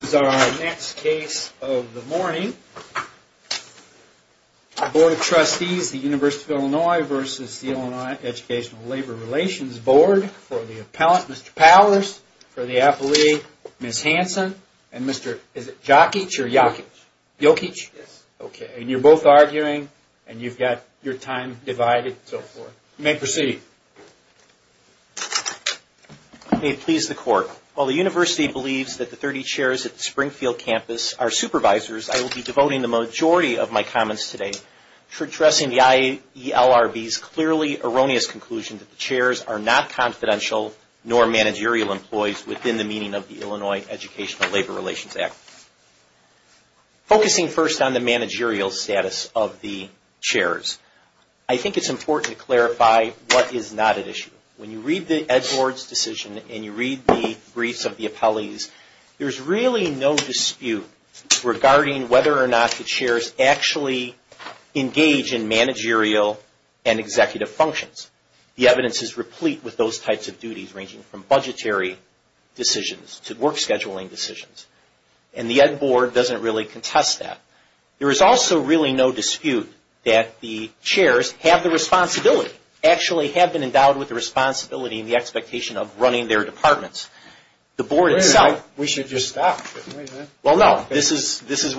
This is our next case of the morning. The Board of Trustees of the University of Illinois v. Illinois Educational Labor Relations Board for the appellant, Mr. Powers. For the appellee, Ms. Hanson. And Mr. Jokic or Jokic? Jokic. Jokic? Yes. And you're both arguing and you've got your time divided and so forth. You may proceed. May it please the court. While the University believes that the 30 chairs at the Springfield campus are supervisors, I will be devoting the majority of my comments today to addressing the IELRB's clearly erroneous conclusion that the chairs are not confidential nor managerial employees within the meaning of the Illinois Educational Labor Relations Act. Focusing first on the managerial status of the chairs, I think it's important to clarify what is not at issue. When you read the Ed. Board's decision and you read the briefs of the appellees, there's really no dispute regarding whether or not the chairs actually engage in managerial and executive functions. The evidence is replete with those types of duties ranging from budgetary decisions to work scheduling decisions. And the Ed. Board doesn't really contest that. There is also really no dispute that the chairs have the responsibility, actually have been endowed with the responsibility and the expectation of running their departments. The Board itself... We should just stop, shouldn't we? Well, no. This is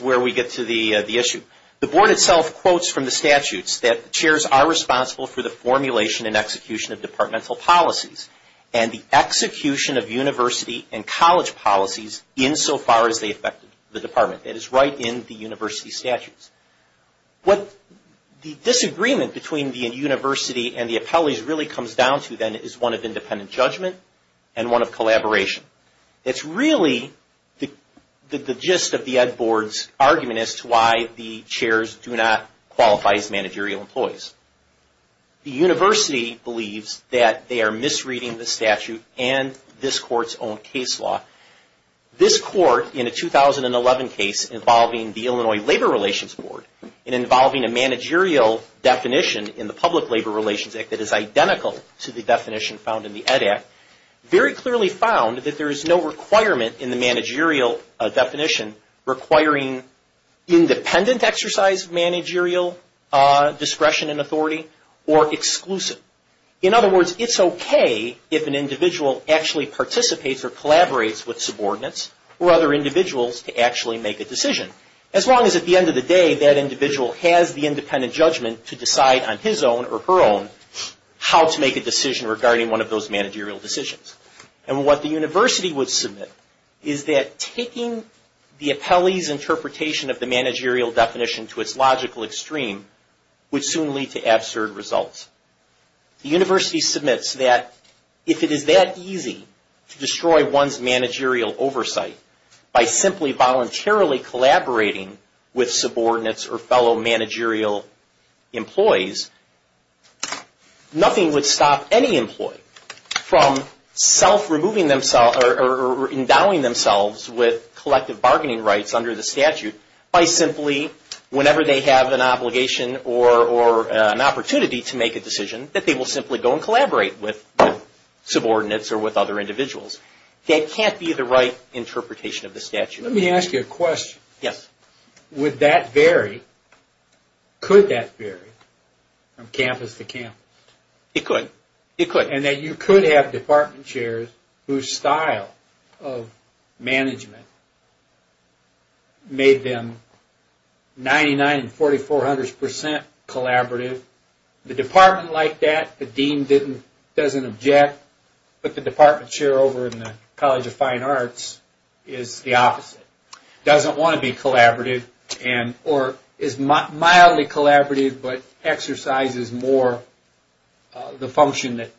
where we get to the issue. The Board itself quotes from the statutes that the chairs are responsible for the formulation and execution of departmental policies and the execution of university and college policies insofar as they affect the department. That is right in the university statutes. What the disagreement between the university and the appellees really comes down to, then, is one of independent judgment and one of collaboration. It's really the gist of the Ed. Board's argument as to why the chairs do not qualify as managerial employees. The university believes that they are misreading the statute and this court's own case law. This court in a 2011 case involving the Illinois Labor Relations Board and involving a managerial definition in the Public Labor Relations Act that is identical to the definition found in the Ed. Act, very clearly found that there is no requirement in the managerial definition requiring independent exercise of managerial discretion and authority or exclusive. In other words, it's okay if an individual actually participates or collaborates with subordinates or other individuals to actually make a decision, as long as at the end of the day that individual has the independent judgment to decide on his own or her own how to make a decision regarding one of those managerial decisions. And what the university would submit is that taking the appellee's interpretation of the managerial definition to its logical extreme would soon lead to absurd results. The university submits that if it is that easy to destroy one's managerial oversight by simply voluntarily collaborating with subordinates or fellow managerial employees, nothing would stop any employee from self-removing themselves or endowing themselves with collective bargaining rights under the statute by simply, whenever they have an obligation or an opportunity to make a decision, that they will simply go and collaborate with subordinates or with other individuals. That can't be the right interpretation of the statute. Let me ask you a question. Yes. Would that vary? Could that vary from campus to campus? It could. And that you could have department chairs whose style of management made them 99 and 4400 percent collaborative. The department liked that. The dean doesn't object. But the department chair over in the College of Fine Arts is the opposite. Doesn't want to be collaborative or is mildly collaborative but exercises more the function that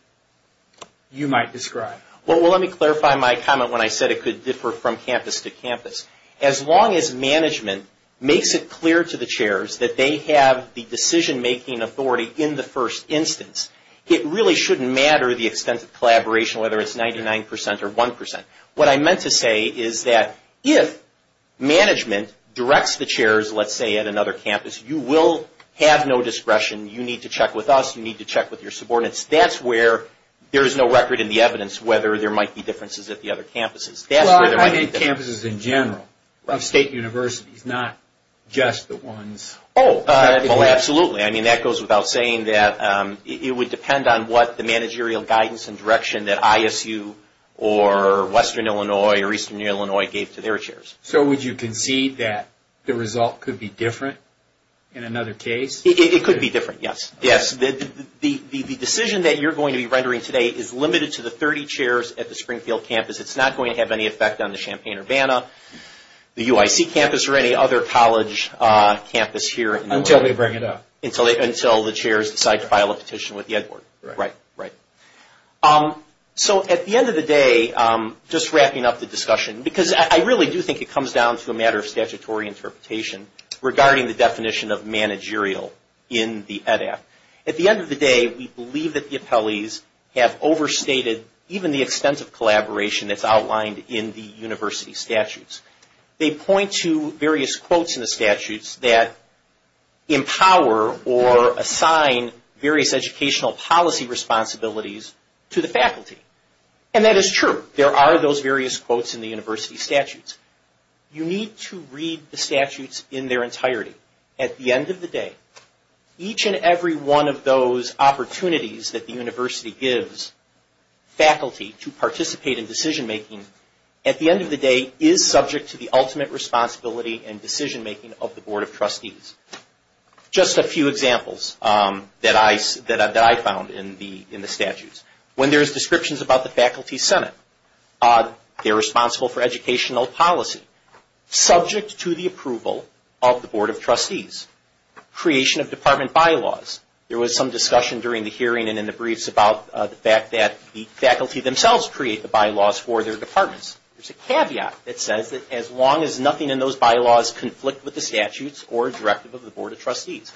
you might describe. Well, let me clarify my comment when I said it could differ from campus to campus. As long as management makes it clear to the chairs that they have the decision-making authority in the first instance, it really shouldn't matter the extent of collaboration, whether it's 99 percent or 1 percent. What I meant to say is that if management directs the chairs, let's say, at another campus, you will have no discretion. You need to check with us. You need to check with your subordinates. That's where there's no record in the evidence whether there might be differences at the other campuses. Well, I mean campuses in general, of state universities, not just the ones. Oh, absolutely. I mean, that goes without saying that it would depend on what the managerial guidance and direction that ISU or Western Illinois or Eastern Illinois gave to their chairs. So would you concede that the result could be different in another case? It could be different, yes. The decision that you're going to be rendering today is limited to the 30 chairs at the Springfield campus. It's not going to have any effect on the Champaign-Urbana, the UIC campus, or any other college campus here. Until they bring it up. Until the chairs decide to file a petition with the Ed Board. Right. Right. So at the end of the day, just wrapping up the discussion, because I really do think it comes down to a matter of statutory interpretation regarding the definition of managerial in the Ed Act. At the end of the day, we believe that the appellees have overstated even the extent of collaboration that's outlined in the university statutes. They point to various quotes in the statutes that empower or assign various educational policy responsibilities to the faculty. And that is true. There are those various quotes in the university statutes. You need to read the statutes in their entirety. At the end of the day, each and every one of those opportunities that the university gives faculty to participate in decision-making, at the end of the day, is subject to the ultimate responsibility and decision-making of the Board of Trustees. Just a few examples that I found in the statutes. When there's descriptions about the Faculty Senate, they're responsible for educational policy. Subject to the approval of the Board of Trustees. Creation of department bylaws. There was some discussion during the hearing and in the briefs about the fact that the faculty themselves create the bylaws for their departments. There's a caveat that says that as long as nothing in those bylaws conflict with the statutes or directive of the Board of Trustees.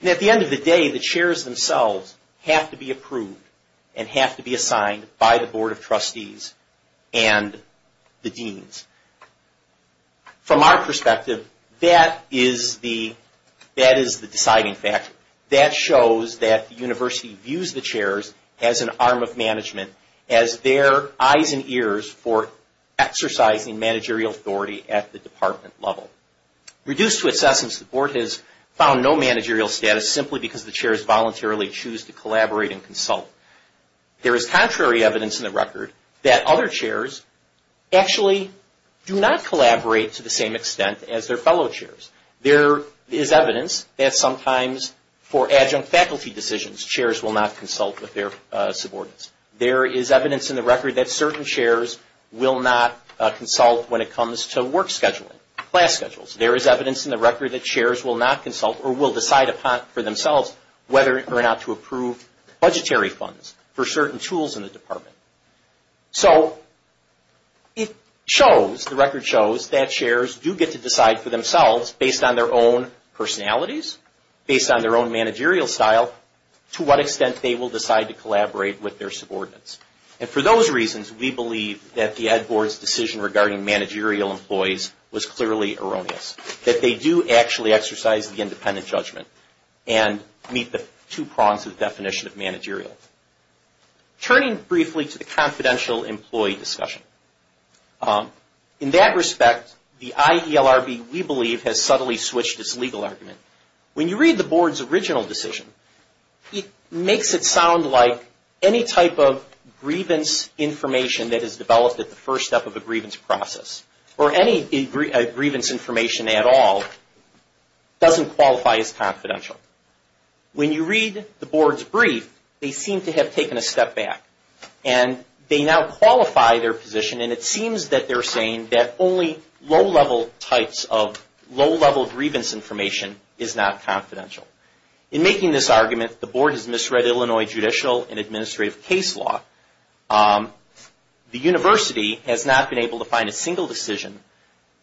And at the end of the day, the chairs themselves have to be approved and have to be assigned by the Board of Trustees and the deans. From our perspective, that is the deciding factor. That shows that the university views the chairs as an arm of management, as their eyes and ears for exercising managerial authority at the department level. Reduced to its essence, the Board has found no managerial status simply because the chairs voluntarily choose to collaborate and consult. There is contrary evidence in the record that other chairs actually do not collaborate to the same extent as their fellow chairs. There is evidence that sometimes for adjunct faculty decisions, chairs will not consult with their subordinates. There is evidence in the record that certain chairs will not consult when it comes to work scheduling, class schedules. There is evidence in the record that chairs will not consult or will decide for themselves whether or not to approve budgetary funds for certain tools in the department. So the record shows that chairs do get to decide for themselves based on their own personalities, based on their own managerial style, to what extent they will decide to collaborate with their subordinates. And for those reasons, we believe that the Ed Board's decision regarding managerial employees was clearly erroneous. That they do actually exercise the independent judgment and meet the two prongs of the definition of managerial. Turning briefly to the confidential employee discussion. In that respect, the IELRB, we believe, has subtly switched its legal argument. When you read the Board's original decision, it makes it sound like any type of grievance information that is developed at the first step of a grievance process, or any grievance information at all, doesn't qualify as confidential. When you read the Board's brief, they seem to have taken a step back. And they now qualify their position. And it seems that they're saying that only low-level types of low-level grievance information is not confidential. In making this argument, the Board has misread Illinois judicial and administrative case law. The University has not been able to find a single decision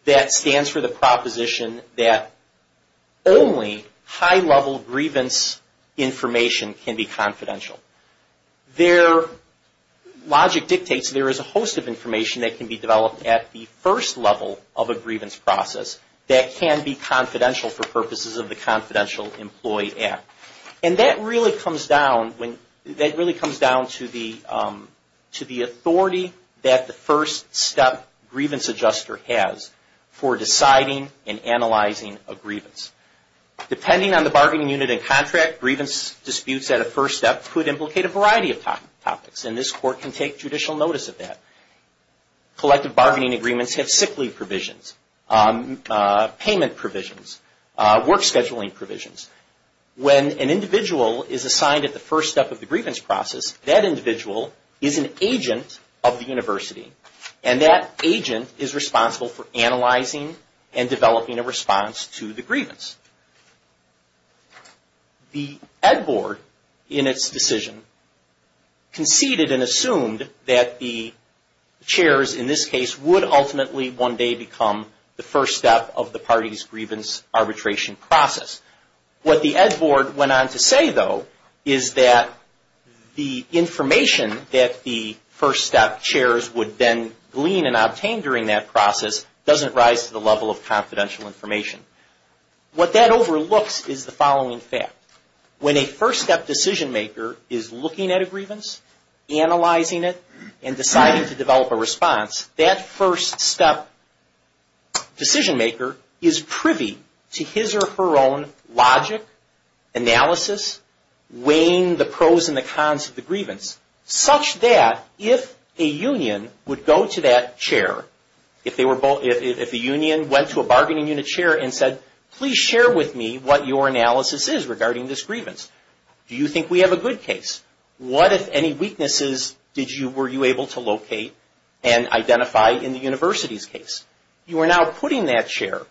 that stands for the proposition that only high-level grievance information can be confidential. Their logic dictates there is a host of information that can be developed at the first level of a grievance process that can be confidential for purposes of the Confidential Employee Act. And that really comes down to the authority that the first step grievance adjuster has for deciding and analyzing a grievance. Depending on the bargaining unit and contract, grievance disputes at a first step could implicate a variety of topics. And this Court can take judicial notice of that. Collective bargaining agreements have sick leave provisions, payment provisions, work scheduling provisions. When an individual is assigned at the first step of the grievance process, that individual is an agent of the University. And that agent is responsible for analyzing and developing a response to the grievance. The Ed Board, in its decision, conceded and assumed that the chairs, in this case, would ultimately one day become the first step of the party's grievance arbitration process. What the Ed Board went on to say, though, is that the information that the first step chairs would then glean and obtain during that process doesn't rise to the level of confidential information. What that overlooks is the following fact. When a first step decision maker is looking at a grievance, analyzing it, and deciding to develop a response, that first step decision maker is privy to his or her own logic, analysis, weighing the pros and the cons of the grievance, such that if a union would go to that chair, if the union went to a bargaining unit chair and said, please share with me what your analysis is regarding this grievance. Do you think we have a good case? What, if any, weaknesses were you able to locate and identify in the university's case? You are now putting that chair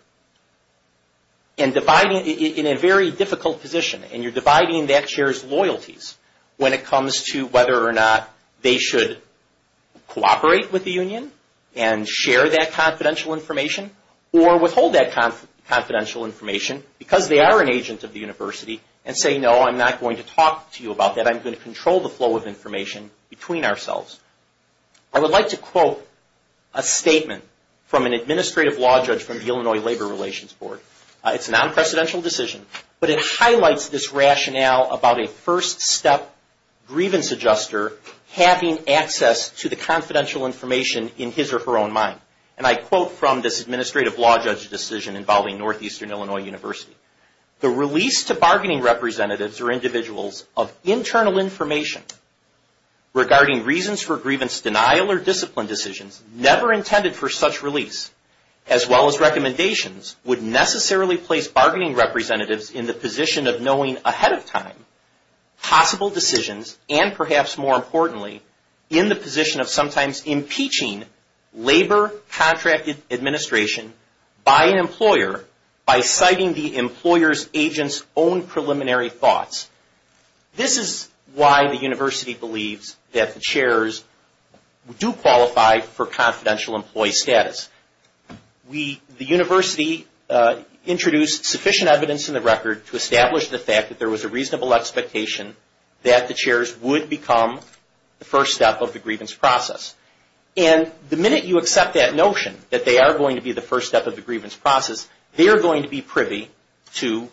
in a very difficult position, and you're dividing that chair's loyalties when it comes to whether or not they should cooperate with the union and share that confidential information or withhold that confidential information because they are an agent of the university and say, no, I'm not going to talk to you about that. I'm going to control the flow of information between ourselves. I would like to quote a statement from an administrative law judge from the Illinois Labor Relations Board. It's a non-precedential decision, but it highlights this rationale about a first step grievance adjuster having access to the confidential information in his or her own mind. And I quote from this administrative law judge's decision involving Northeastern Illinois University. The release to bargaining representatives or individuals of internal information regarding reasons for grievance denial or discipline decisions never intended for such release, as well as recommendations, would necessarily place bargaining representatives in the position of knowing ahead of time possible decisions and, perhaps more importantly, in the position of sometimes impeaching labor contract administration by an employer by citing the employer's agent's own preliminary thoughts. This is why the university believes that the chairs do qualify for confidential employee status. The university introduced sufficient evidence in the record to establish the fact that there was a reasonable expectation that the chairs would become the first step of the grievance process. And the minute you accept that notion, that they are going to be the first step of the grievance process, they are going to be privy to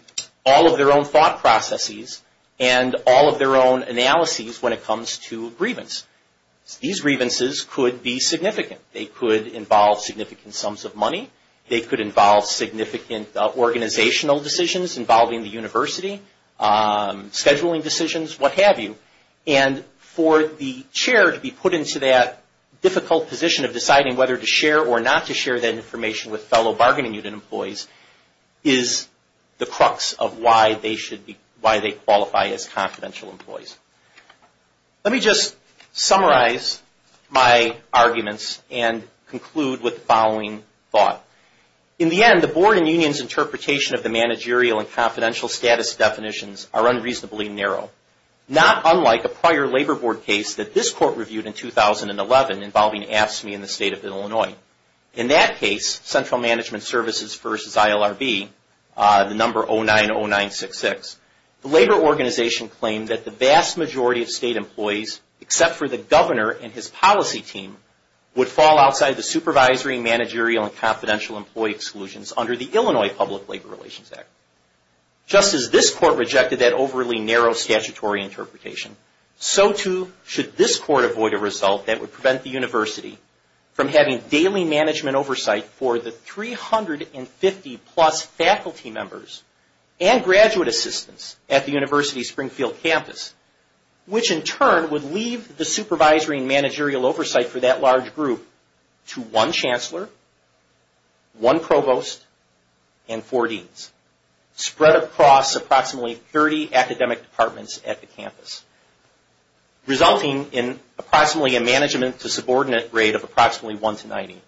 all of their own thought processes and all of their own analyses when it comes to grievance. These grievances could be significant. They could involve significant sums of money. They could involve significant organizational decisions involving the university, scheduling decisions, what have you. And for the chair to be put into that difficult position of deciding whether to share or not to share that information with fellow bargaining unit employees is the crux of why they qualify as confidential employees. Let me just summarize my arguments and conclude with the following thought. In the end, the board and union's interpretation of the managerial and confidential status definitions are unreasonably narrow. Not unlike a prior labor board case that this court reviewed in 2011 involving AFSCME in the state of Illinois. In that case, Central Management Services versus ILRB, the number 090966, the labor organization claimed that the vast majority of state employees, except for the governor and his policy team, would fall outside the supervisory, managerial, and confidential employee exclusions under the Illinois Public Labor Relations Act. Just as this court rejected that overly narrow statutory interpretation, so too should this court avoid a result that would prevent the university from having daily management oversight for the 350 plus faculty members and graduate assistants at the university's Springfield campus, which in turn would leave the supervisory and managerial oversight for that large group to one chancellor, one provost, and four deans, spread across approximately 30 academic departments at the campus, resulting in approximately a management to subordinate rate of approximately 1 to 90.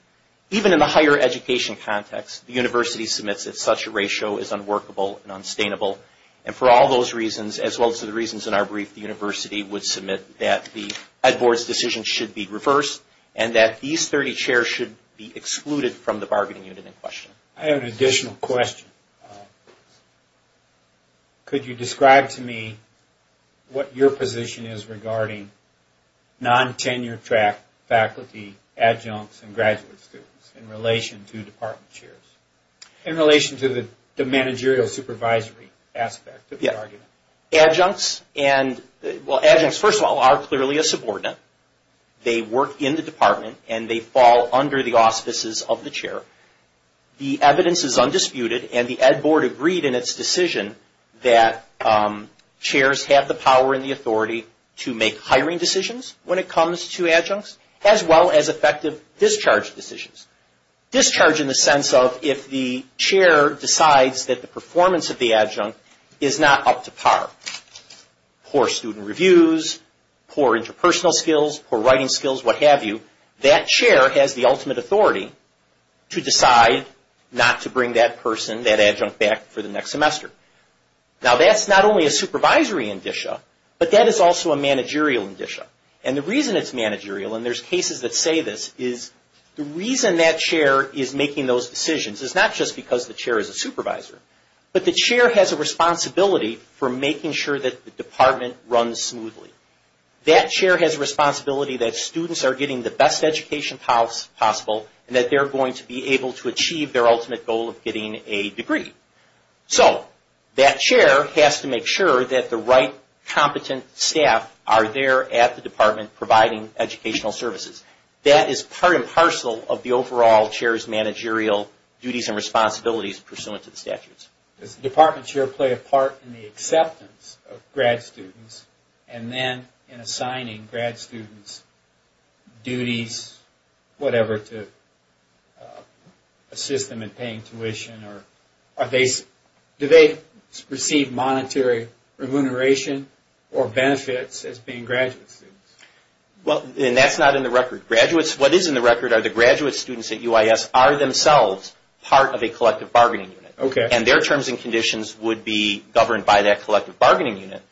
Even in the higher education context, the university submits that such a ratio is unworkable and unsustainable. And for all those reasons, as well as the reasons in our brief, the university would submit that the ed board's decision should be reversed and that these 30 chairs should be excluded from the bargaining unit in question. I have an additional question. Could you describe to me what your position is regarding non-tenure track faculty, adjuncts, and graduate students in relation to department chairs? In relation to the managerial supervisory aspect of the argument. Adjuncts, first of all, are clearly a subordinate. They work in the department and they fall under the auspices of the chair. The evidence is undisputed and the ed board agreed in its decision that chairs have the power and the authority to make hiring decisions when it comes to adjuncts, as well as effective discharge decisions. Discharge in the sense of if the chair decides that the performance of the adjunct is not up to par. Poor student reviews, poor interpersonal skills, poor writing skills, what have you. That chair has the ultimate authority to decide not to bring that person, that adjunct, back for the next semester. Now that's not only a supervisory indicia, but that is also a managerial indicia. And the reason it's managerial, and there's cases that say this, is the reason that chair is making those decisions is not just because the chair is a supervisor, but the chair has a responsibility for making sure that the department runs smoothly. That chair has a responsibility that students are getting the best education possible and that they're going to be able to achieve their ultimate goal of getting a degree. So that chair has to make sure that the right competent staff are there at the department providing educational services. That is part and parcel of the overall chair's managerial duties and responsibilities pursuant to the statutes. Does the department chair play a part in the acceptance of grad students and then in assigning grad students duties, whatever, to assist them in paying tuition? Do they receive monetary remuneration or benefits as being graduate students? Well, that's not in the record. What is in the record are the graduate students at UIS are themselves part of a collective bargaining unit. And their terms and conditions would be governed by that collective bargaining unit,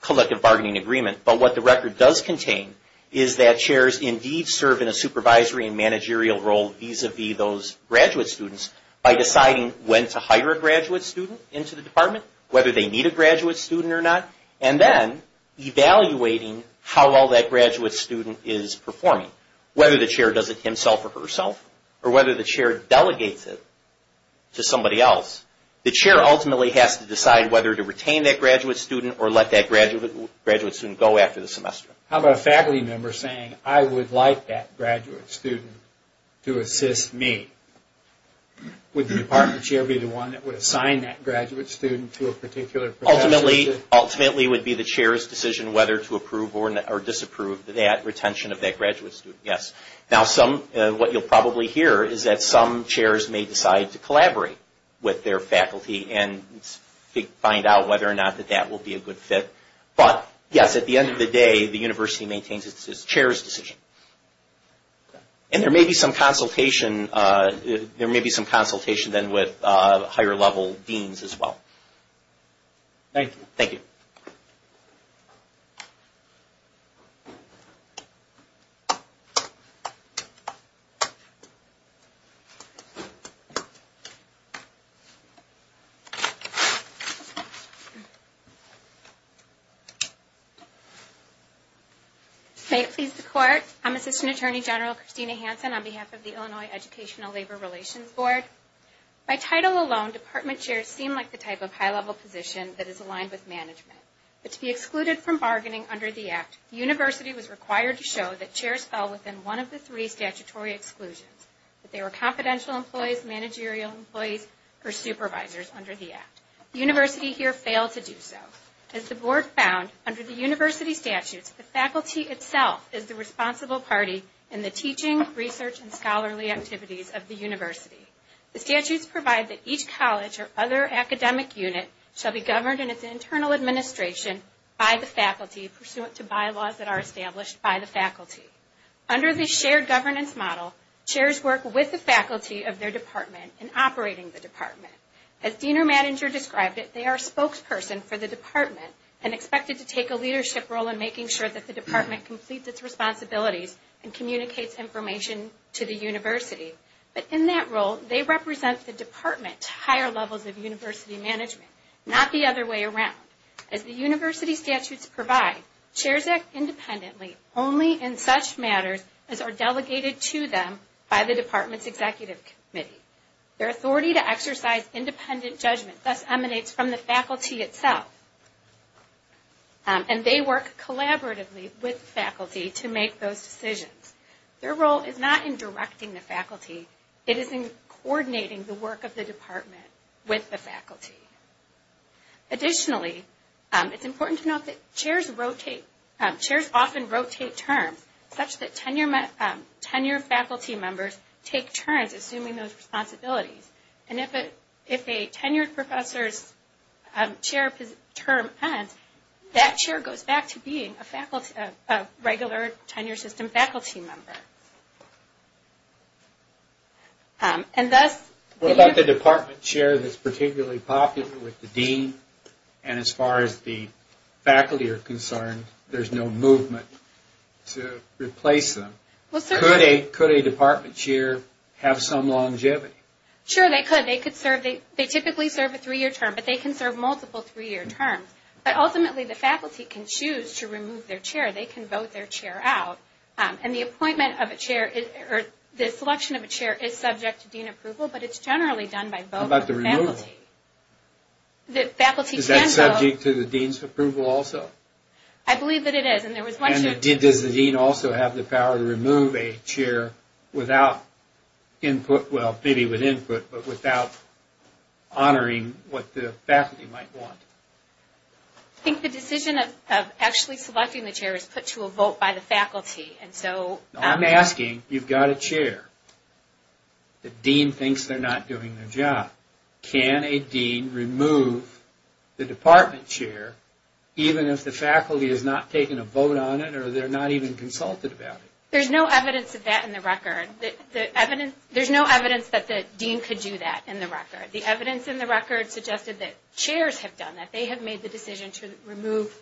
collective bargaining agreement. But what the record does contain is that chairs indeed serve in a supervisory and managerial role vis-a-vis those graduate students by deciding when to hire a graduate student into the department, whether they need a graduate student or not, and then evaluating how well that graduate student is performing. Whether the chair does it himself or herself, or whether the chair delegates it to somebody else, the chair ultimately has to decide whether to retain that graduate student or let that graduate student go after the semester. How about a faculty member saying, I would like that graduate student to assist me? Would the department chair be the one that would assign that graduate student to a particular profession? Ultimately, it would be the chair's decision whether to approve or disapprove that retention of that graduate student, yes. Now, what you'll probably hear is that some chairs may decide to collaborate with their faculty and find out whether or not that that will be a good fit. But, yes, at the end of the day, the university maintains its chair's decision. And there may be some consultation then with higher level deans as well. Thank you. May it please the Court, I'm Assistant Attorney General Christina Hansen on behalf of the Illinois Educational Labor Relations Board. By title alone, department chairs seem like the type of high-level position that is aligned with management. But to be excluded from bargaining under the Act, the university was required to show that chairs fell within one of the three statutory exclusions, that they were confidential employees, managerial employees, or supervisors under the Act. The university here failed to do so. As the Board found, under the university statutes, the faculty itself is the responsible party in the teaching, research, and scholarly activities of the university. The statutes provide that each college or other academic unit shall be governed in its internal administration by the faculty, pursuant to bylaws that are established by the faculty. Under the shared governance model, chairs work with the faculty of their department in operating the department. As Dean or Manager described it, they are a spokesperson for the department and expected to take a leadership role in making sure that the department completes its responsibilities and communicates information to the university. But in that role, they represent the department to higher levels of university management, not the other way around. As the university statutes provide, chairs act independently only in such matters as are delegated to them by the department's executive committee. Their authority to exercise independent judgment thus emanates from the faculty itself, and they work collaboratively with the faculty to make those decisions. Their role is not in directing the faculty, it is in coordinating the work of the department with the faculty. Additionally, it's important to note that chairs often rotate terms such that tenured faculty members take turns assuming those responsibilities. If a tenured professor's chair term ends, that chair goes back to being a regular tenure system faculty member. What about the department chair that's particularly popular with the dean, and as far as the faculty are concerned, there's no movement to replace them? Could a department chair have some longevity? Sure, they could. They typically serve a three-year term, but they can serve multiple three-year terms. But ultimately, the faculty can choose to remove their chair. They can vote their chair out. And the selection of a chair is subject to dean approval, but it's generally done by vote of the faculty. How about the removal? Is that subject to the dean's approval also? I believe that it is. And does the dean also have the power to remove a chair without input, well, maybe with input, but without honoring what the faculty might want? I think the decision of actually selecting the chair is put to a vote by the faculty. I'm asking, you've got a chair. The dean thinks they're not doing their job. Can a dean remove the department chair even if the faculty has not taken a vote on it or they're not even consulted about it? There's no evidence of that in the record. There's no evidence that the dean could do that in the record. The evidence in the record suggested that chairs have done that. They have made the decision to remove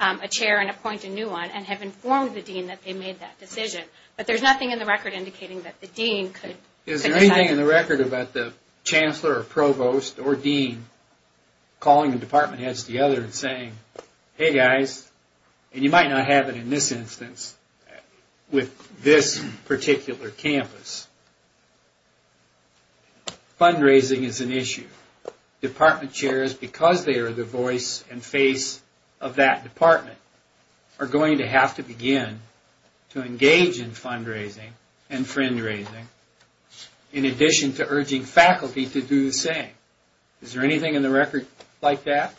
a chair and appoint a new one and have informed the dean that they made that decision. But there's nothing in the record indicating that the dean could decide. Is there anything in the record about the chancellor or provost or dean calling the department heads together and saying, hey guys, and you might not have it in this instance with this particular campus. Fundraising is an issue. Department chairs, because they are the voice and face of that department, are going to have to begin to engage in fundraising and friend raising in addition to urging faculty to do the same. Is there anything in the record like that?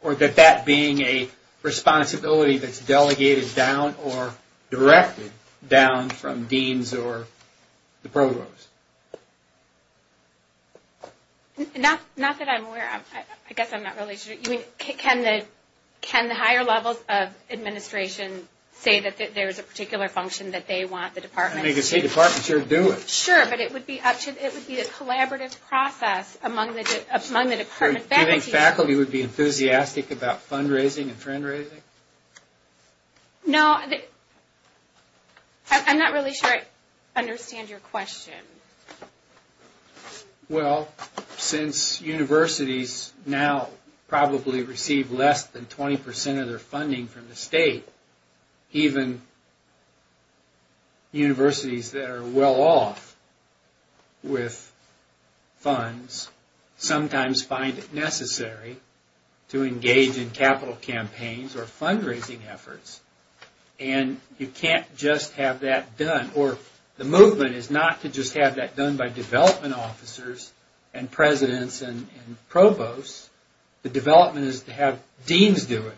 Or that that being a responsibility that's delegated down or directed down from deans or the provost? Not that I'm aware of. I guess I'm not really sure. Can the higher levels of administration say that there's a particular function that they want the department to do? I mean, you could say department chair do it. Sure, but it would be a collaborative process among the department faculty. Do you think faculty would be enthusiastic about fundraising and friend raising? No. I'm not really sure I understand your question. Well, since universities now probably receive less than 20% of their funding from the state, even universities that are well off with funds sometimes find it necessary to engage in capital campaigns or fundraising efforts. And you can't just have that done. The movement is not to just have that done by development officers and presidents and provosts. The development is to have deans do it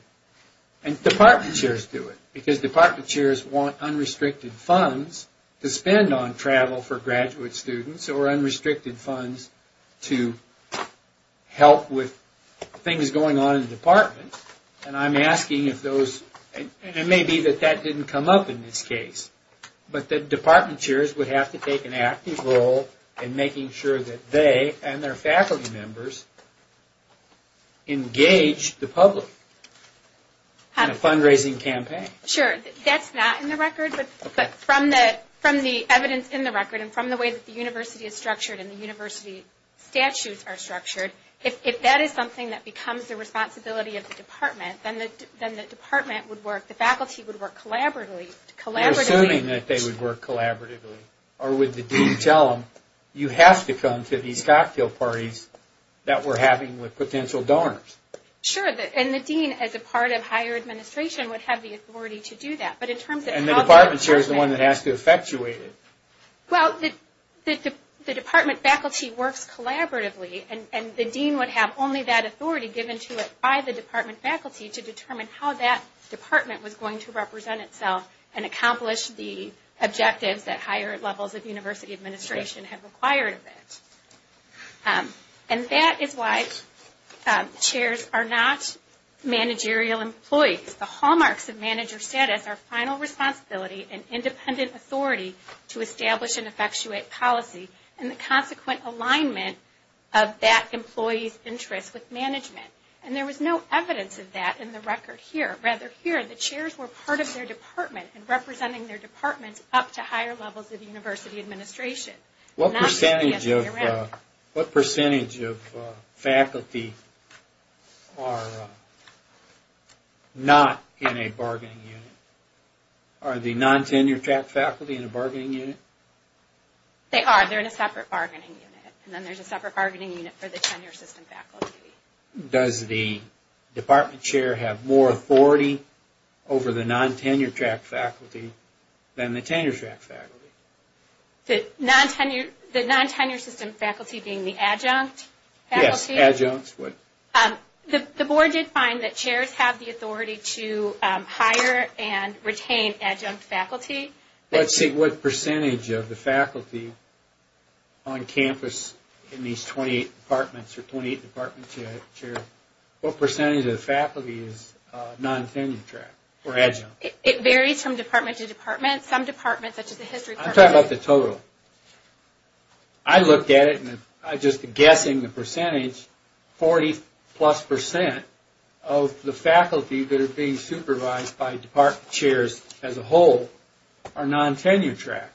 and department chairs do it because department chairs want unrestricted funds to spend on travel for graduate students or unrestricted funds to help with things going on in the department. And I'm asking if those, and it may be that that didn't come up in this case, but that department chairs would have to take an active role in making sure that they and their faculty members engage the public in a fundraising campaign. Sure. That's not in the record, but from the evidence in the record and from the way that the university is structured and the university statutes are structured, if that is something that becomes the responsibility of the department, then the department would work, the faculty would work collaboratively. You're assuming that they would work collaboratively. Or would the dean tell them, you have to come to these cocktail parties that we're having with potential donors? Sure. And the dean as a part of higher administration would have the authority to do that. And the department chair is the one that has to effectuate it. Well, the department faculty works collaboratively And the dean would have only that authority given to it by the department faculty to determine how that department was going to represent itself and accomplish the objectives that higher levels of university administration have acquired of it. And that is why chairs are not managerial employees. The hallmarks of manager status are final responsibility and independent authority to establish and effectuate policy. And the consequent alignment of that employee's interest with management. And there was no evidence of that in the record here. Rather here, the chairs were part of their department and representing their departments up to higher levels of university administration. What percentage of faculty are not in a bargaining unit? Are the non-tenured faculty in a bargaining unit? They are. They're in a separate bargaining unit. And then there's a separate bargaining unit for the tenure system faculty. Does the department chair have more authority over the non-tenure track faculty than the tenure track faculty? The non-tenure system faculty being the adjunct faculty? Yes, adjuncts. The board did find that chairs have the authority to hire and retain adjunct faculty. What percentage of the faculty on campus in these 28 departments or 28 department chairs, what percentage of the faculty is non-tenure track or adjunct? It varies from department to department. Some departments, such as the history department. I'm talking about the total. I looked at it and just guessing the percentage, 40 plus percent of the faculty that are being supervised by department chairs as a whole are non-tenure track.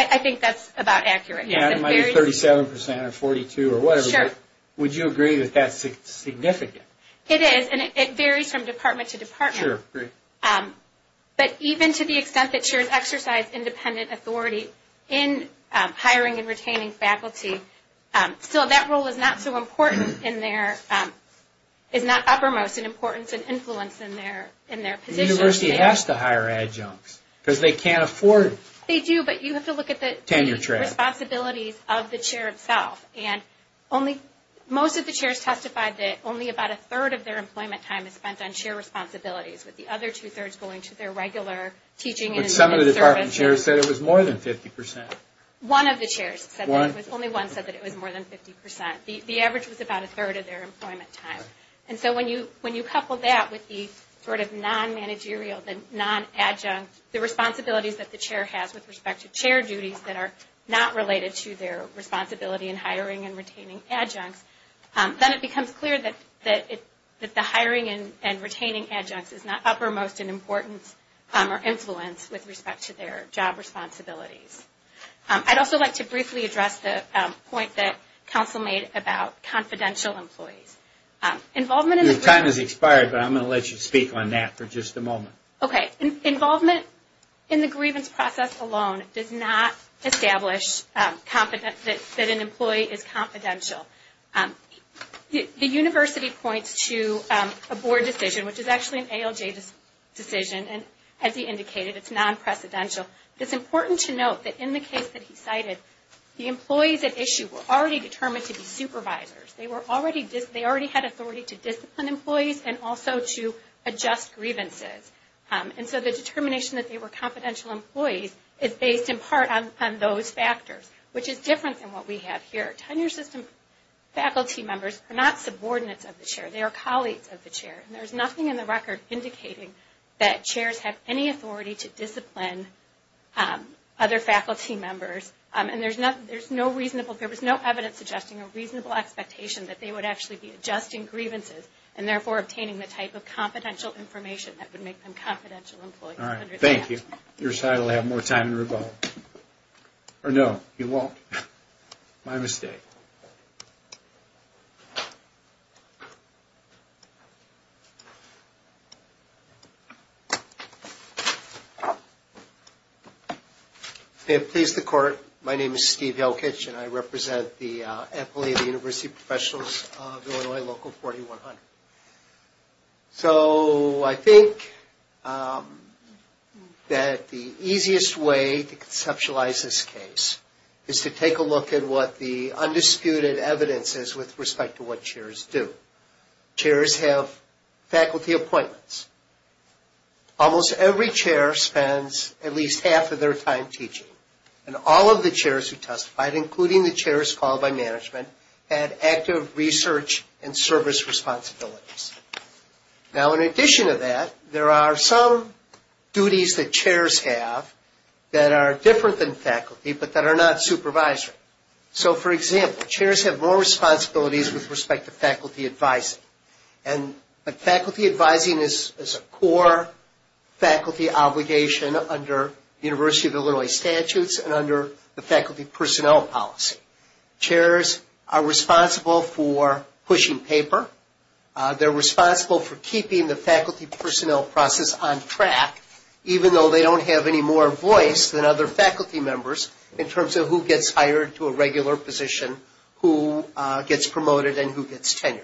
I think that's about accurate. Yeah, it might be 37 percent or 42 or whatever. Sure. Would you agree that that's significant? It is, and it varies from department to department. Sure. But even to the extent that chairs exercise independent authority in hiring and retaining faculty, still that role is not uppermost in importance and influence in their position. The university has to hire adjuncts because they can't afford tenure track. They do, but you have to look at the responsibilities of the chair itself. Most of the chairs testified that only about a third of their employment time is spent on chair responsibilities, with the other two-thirds going to their regular teaching and learning services. But some of the department chairs said it was more than 50 percent. One of the chairs said that. One? Only one said that it was more than 50 percent. The average was about a third of their employment time. And so when you couple that with the sort of non-managerial, the non-adjunct, the responsibilities that the chair has with respect to chair duties that are not related to their responsibility in hiring and retaining adjuncts, then it becomes clear that the hiring and retaining adjuncts is not uppermost in importance or influence with respect to their job responsibilities. I'd also like to briefly address the point that counsel made about confidential employees. Your time has expired, but I'm going to let you speak on that for just a moment. Okay. Involvement in the grievance process alone does not establish that an employee is confidential. The university points to a board decision, which is actually an ALJ decision, and as he indicated, it's non-precedential. It's important to note that in the case that he cited, the employees at issue were already determined to be supervisors. They already had authority to discipline employees and also to adjust grievances. And so the determination that they were confidential employees is based in part on those factors, which is different than what we have here. Tenure system faculty members are not subordinates of the chair. They are colleagues of the chair. And there's nothing in the record indicating that chairs have any authority to discipline other faculty members. And there's no evidence suggesting a reasonable expectation that they would actually be adjusting grievances and therefore obtaining the type of confidential information that would make them confidential employees. All right. Thank you. Your side will have more time to revolt. Or no, you won't. My mistake. May it please the Court, my name is Steve Helkitsch, and I represent the employee of the University Professionals of Illinois Local 4100. So I think that the easiest way to conceptualize this case is to take a look at what the undisputed evidence is with respect to what chairs do. Chairs have faculty appointments. Almost every chair spends at least half of their time teaching. And all of the chairs who testified, including the chairs called by management, had active research and service responsibilities. Now, in addition to that, there are some duties that chairs have that are different than faculty, but that are not supervisory. So, for example, chairs have more responsibilities with respect to faculty advising. And faculty advising is a core faculty obligation under University of Illinois statutes and under the faculty personnel policy. Chairs are responsible for pushing paper. They're responsible for keeping the faculty personnel process on track, even though they don't have any more voice than other faculty members in terms of who gets hired to a regular position, who gets promoted, and who gets tenured.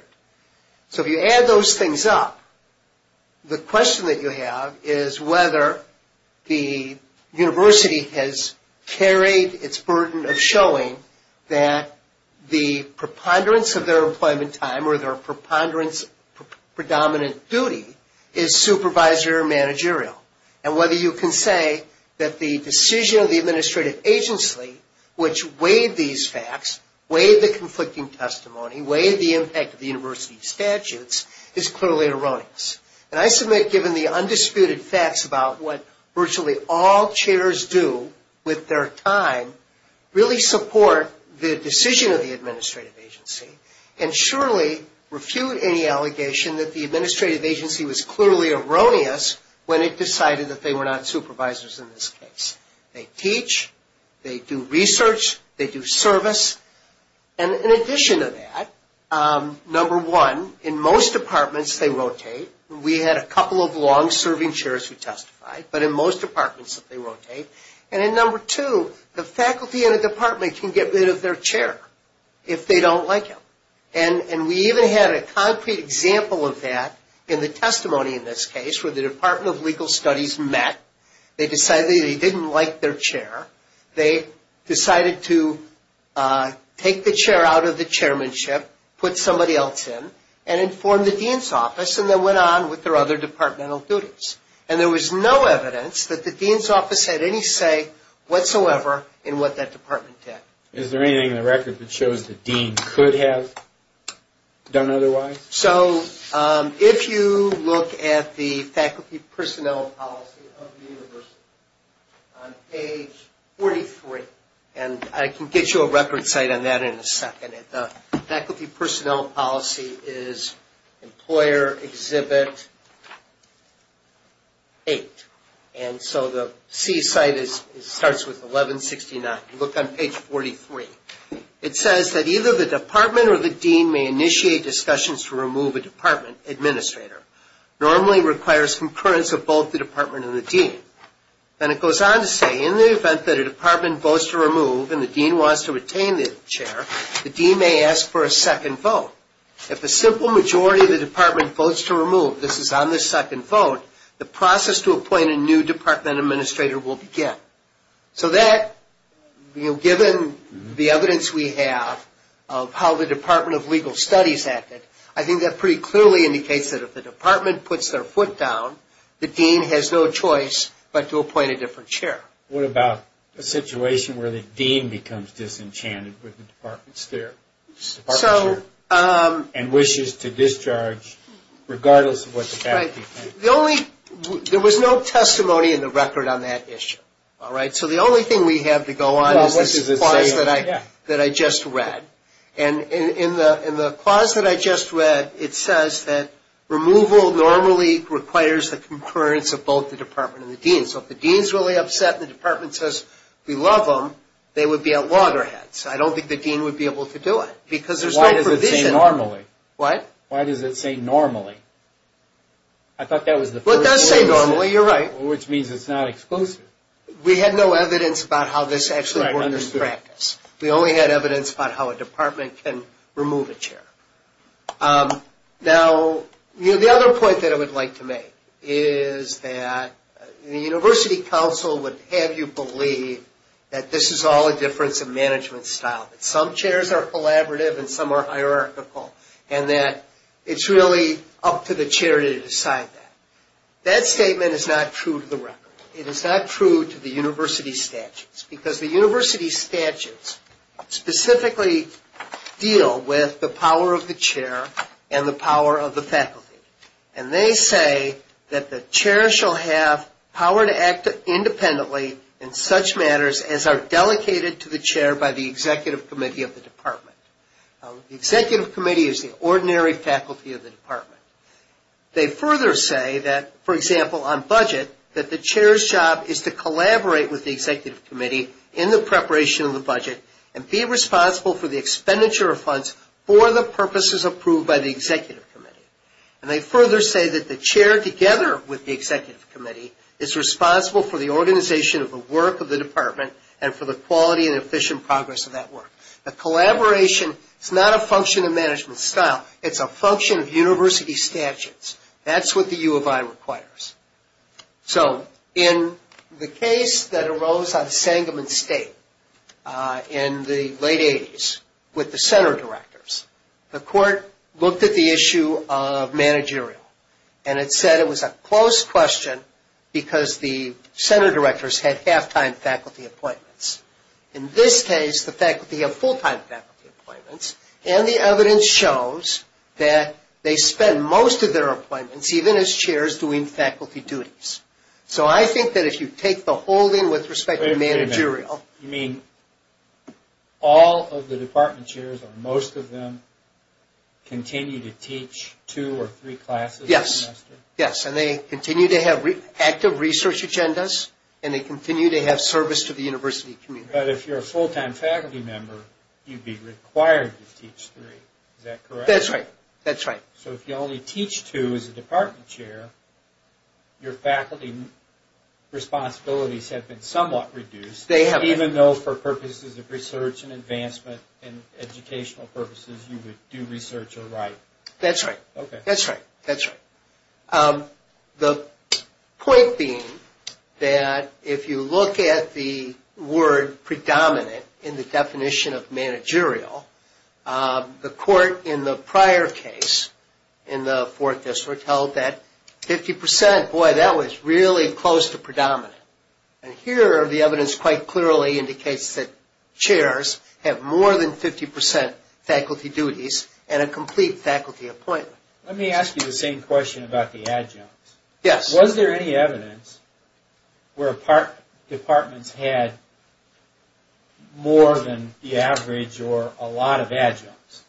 So if you add those things up, the question that you have is whether the university has carried its burden of showing that the preponderance of their employment time or their predominant duty is supervisory or managerial. And whether you can say that the decision of the administrative agency, which weighed these facts, weighed the conflicting testimony, weighed the impact of the university statutes, is clearly erroneous. And I submit, given the undisputed facts about what virtually all chairs do with their time, really support the decision of the administrative agency and surely refute any allegation that the administrative agency was clearly erroneous when it decided that they were not supervisors in this case. They teach, they do research, they do service. And in addition to that, number one, in most departments they rotate. We had a couple of long-serving chairs who testified, but in most departments they rotate. And then number two, the faculty in a department can get rid of their chair if they don't like it. And we even had a concrete example of that in the testimony in this case where the Department of Legal Studies met. They decided they didn't like their chair. They decided to take the chair out of the chairmanship, put somebody else in, and inform the dean's office, and there was no evidence that the dean's office had any say whatsoever in what that department did. Is there anything in the record that shows the dean could have done otherwise? So if you look at the faculty personnel policy of the university on page 43, and I can get you a record site on that in a second, the faculty personnel policy is Employer Exhibit 8. And so the C site starts with 1169. Look on page 43. It says that either the department or the dean may initiate discussions to remove a department administrator. Normally requires concurrence of both the department and the dean. And it goes on to say in the event that a department votes to remove and the dean wants to retain the chair, the dean may ask for a second vote. If a simple majority of the department votes to remove, this is on the second vote, the process to appoint a new department administrator will begin. So that, given the evidence we have of how the Department of Legal Studies acted, I think that pretty clearly indicates that if the department puts their foot down, the dean has no choice but to appoint a different chair. What about a situation where the dean becomes disenchanted with the department's chair and wishes to discharge regardless of what the faculty thinks? There was no testimony in the record on that issue. So the only thing we have to go on is this clause that I just read. And in the clause that I just read, it says that removal normally requires the concurrence of both the department and the dean. So if the dean's really upset and the department says we love him, they would be at loggerheads. I don't think the dean would be able to do it because there's no provision. Why does it say normally? What? Why does it say normally? I thought that was the first thing. Well, it does say normally, you're right. Which means it's not exclusive. We had no evidence about how this actually works in practice. We only had evidence about how a department can remove a chair. Now, the other point that I would like to make is that the university council would have you believe that this is all a difference of management style, that some chairs are collaborative and some are hierarchical, and that it's really up to the chair to decide that. That statement is not true to the record. It is not true to the university statutes because the university statutes specifically deal with the power of the chair and the power of the faculty. And they say that the chair shall have power to act independently in such matters as are delegated to the chair by the executive committee of the department. They further say that, for example, on budget, that the chair's job is to collaborate with the executive committee in the preparation of the budget and be responsible for the expenditure of funds for the purposes approved by the executive committee. And they further say that the chair, together with the executive committee, is responsible for the organization of the work of the department and for the quality and efficient progress of that work. The collaboration is not a function of management style. It's a function of university statutes. That's what the U of I requires. So in the case that arose on Sangamon State in the late 80s with the center directors, the court looked at the issue of managerial. And it said it was a close question because the center directors had half-time faculty appointments. In this case, the faculty have full-time faculty appointments. And the evidence shows that they spend most of their appointments, even as chairs, doing faculty duties. So I think that if you take the holding with respect to managerial... Wait a minute. You mean all of the department chairs or most of them continue to teach two or three classes a semester? Yes. Yes, and they continue to have active research agendas, and they continue to have service to the university community. But if you're a full-time faculty member, you'd be required to teach three. Is that correct? That's right. That's right. So if you only teach two as a department chair, your faculty responsibilities have been somewhat reduced. They have. Even though for purposes of research and advancement and educational purposes, you would do research or write. That's right. Okay. That's right. That's right. The point being that if you look at the word predominant in the definition of managerial, the court in the prior case in the fourth district held that 50 percent, boy, that was really close to predominant. And here the evidence quite clearly indicates that chairs have more than 50 percent faculty duties and a complete faculty appointment. Let me ask you the same question about the adjuncts. Yes. Was there any evidence where departments had more than the average or a lot of adjuncts?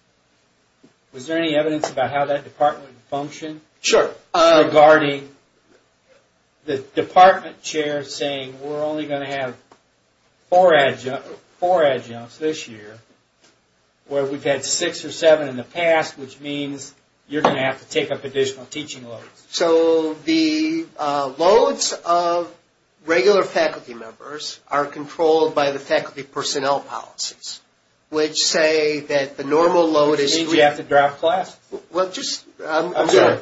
Was there any evidence about how that department functioned? Sure. Regarding the department chair saying we're only going to have four adjuncts this year, where we've had six or seven in the past, which means you're going to have to take up additional teaching loads. So the loads of regular faculty members are controlled by the faculty personnel policies, which say that the normal load is three. Which means you have to drop classes. I'm sorry.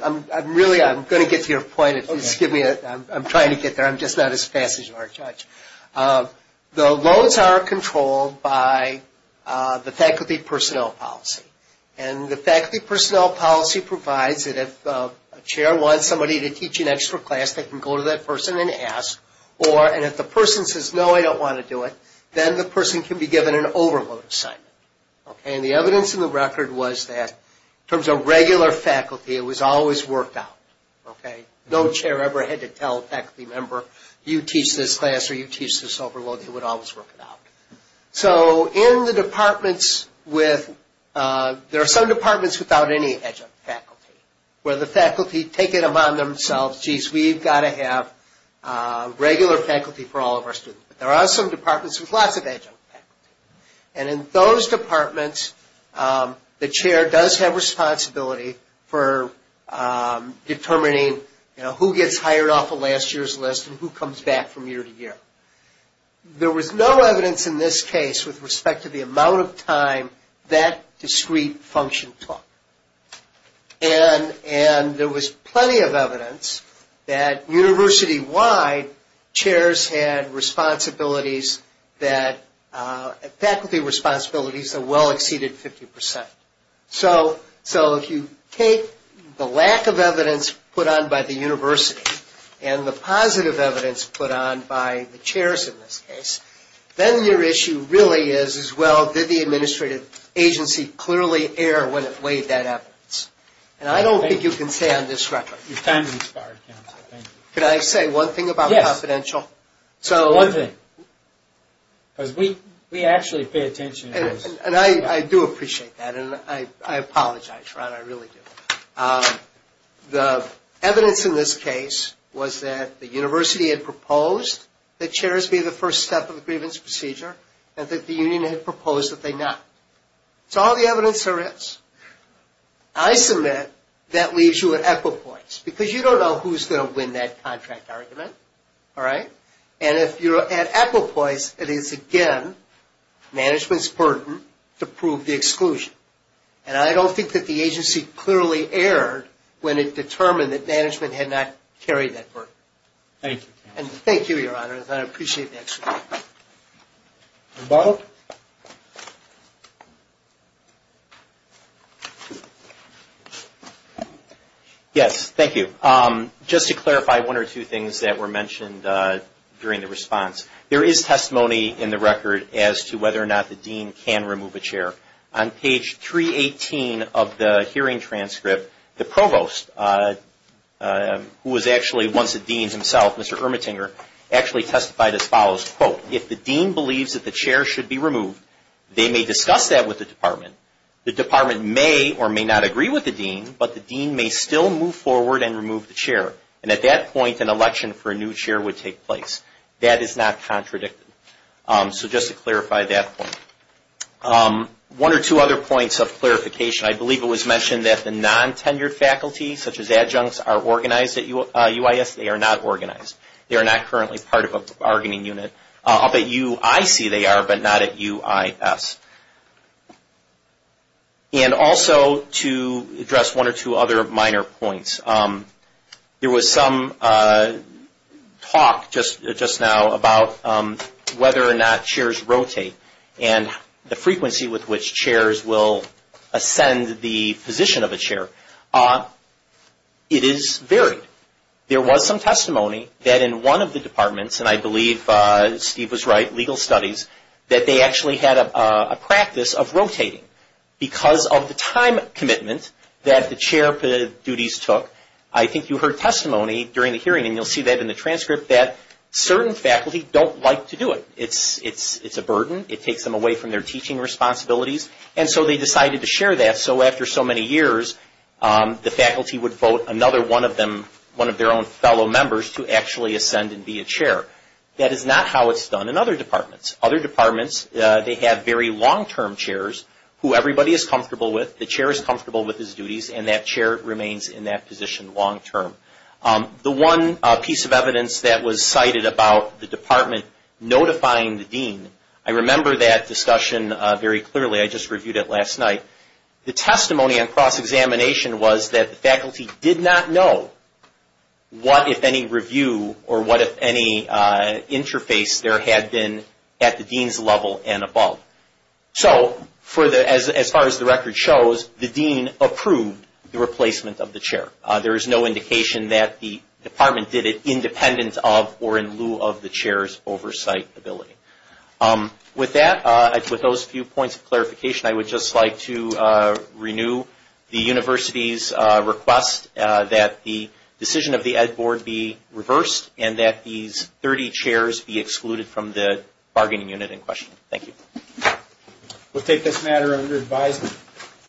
Really, I'm going to get to your point. I'm trying to get there. I'm just not as fast as you are, Judge. The loads are controlled by the faculty personnel policy. And the faculty personnel policy provides that if a chair wants somebody to teach an extra class, they can go to that person and ask. And if the person says, no, I don't want to do it, then the person can be given an overload assignment. And the evidence in the record was that in terms of regular faculty, it was always worked out. No chair ever had to tell a faculty member, you teach this class or you teach this overload. It would always work out. So in the departments with – there are some departments without any adjunct faculty, where the faculty take it upon themselves, jeez, we've got to have regular faculty for all of our students. But there are some departments with lots of adjunct faculty. And in those departments, the chair does have responsibility for determining, you know, who gets hired off of last year's list and who comes back from year to year. There was no evidence in this case with respect to the amount of time that discrete function took. And there was plenty of evidence that university-wide, chairs had responsibilities that – faculty responsibilities that well exceeded 50 percent. So if you take the lack of evidence put on by the university and the positive evidence put on by the chairs in this case, then your issue really is, is, well, did the administrative agency clearly err when it weighed that evidence? And I don't think you can say on this record. Your time has expired, counsel. Thank you. Can I say one thing about confidential? Yes. One thing. Because we actually pay attention to this. And I do appreciate that, and I apologize, Ron, I really do. The evidence in this case was that the university had proposed that chairs be the first step of the grievance procedure and that the union had proposed that they not. So all the evidence there is. I submit that leaves you at equipoise because you don't know who's going to win that contract argument. All right? And if you're at equipoise, it is, again, management's burden to prove the exclusion. And I don't think that the agency clearly erred when it determined that management had not carried that burden. Thank you. And thank you, Your Honor. I appreciate that. And Bob? Yes. Thank you. Just to clarify one or two things that were mentioned during the response. There is testimony in the record as to whether or not the dean can remove a chair. On page 318 of the hearing transcript, the provost, who was actually once a dean himself, Mr. Ermettinger, actually testified as follows. Quote, if the dean believes that the chair should be removed, they may discuss that with the department. The department may or may not agree with the dean, but the dean may still move forward and remove the chair. And at that point, an election for a new chair would take place. That is not contradicted. So just to clarify that point. One or two other points of clarification. I believe it was mentioned that the non-tenured faculty, such as adjuncts, are organized at UIS. They are not organized. They are not currently part of a bargaining unit. Up at UIC they are, but not at UIS. And also to address one or two other minor points. There was some talk just now about whether or not chairs rotate and the frequency with which chairs will ascend the position of a chair. It is varied. There was some testimony that in one of the departments, and I believe Steve was right, Legal Studies, that they actually had a practice of rotating. Because of the time commitment that the chair duties took, I think you heard testimony during the hearing, and you'll see that in the transcript, that certain faculty don't like to do it. It's a burden. It takes them away from their teaching responsibilities, and so they decided to share that. So after so many years, the faculty would vote another one of their own fellow members to actually ascend and be a chair. That is not how it's done in other departments. Other departments, they have very long-term chairs who everybody is comfortable with. The chair is comfortable with his duties, and that chair remains in that position long-term. The one piece of evidence that was cited about the department notifying the dean, I remember that discussion very clearly. I just reviewed it last night. The testimony on cross-examination was that the faculty did not know what, if any, review, or what, if any, interface there had been at the dean's level and above. So as far as the record shows, the dean approved the replacement of the chair. There is no indication that the department did it independent of or in lieu of the chair's oversight ability. With that, with those few points of clarification, I would just like to renew the university's request that the decision of the Ed Board be reversed and that these 30 chairs be excluded from the bargaining unit in question. Thank you. We'll take this matter under advisement.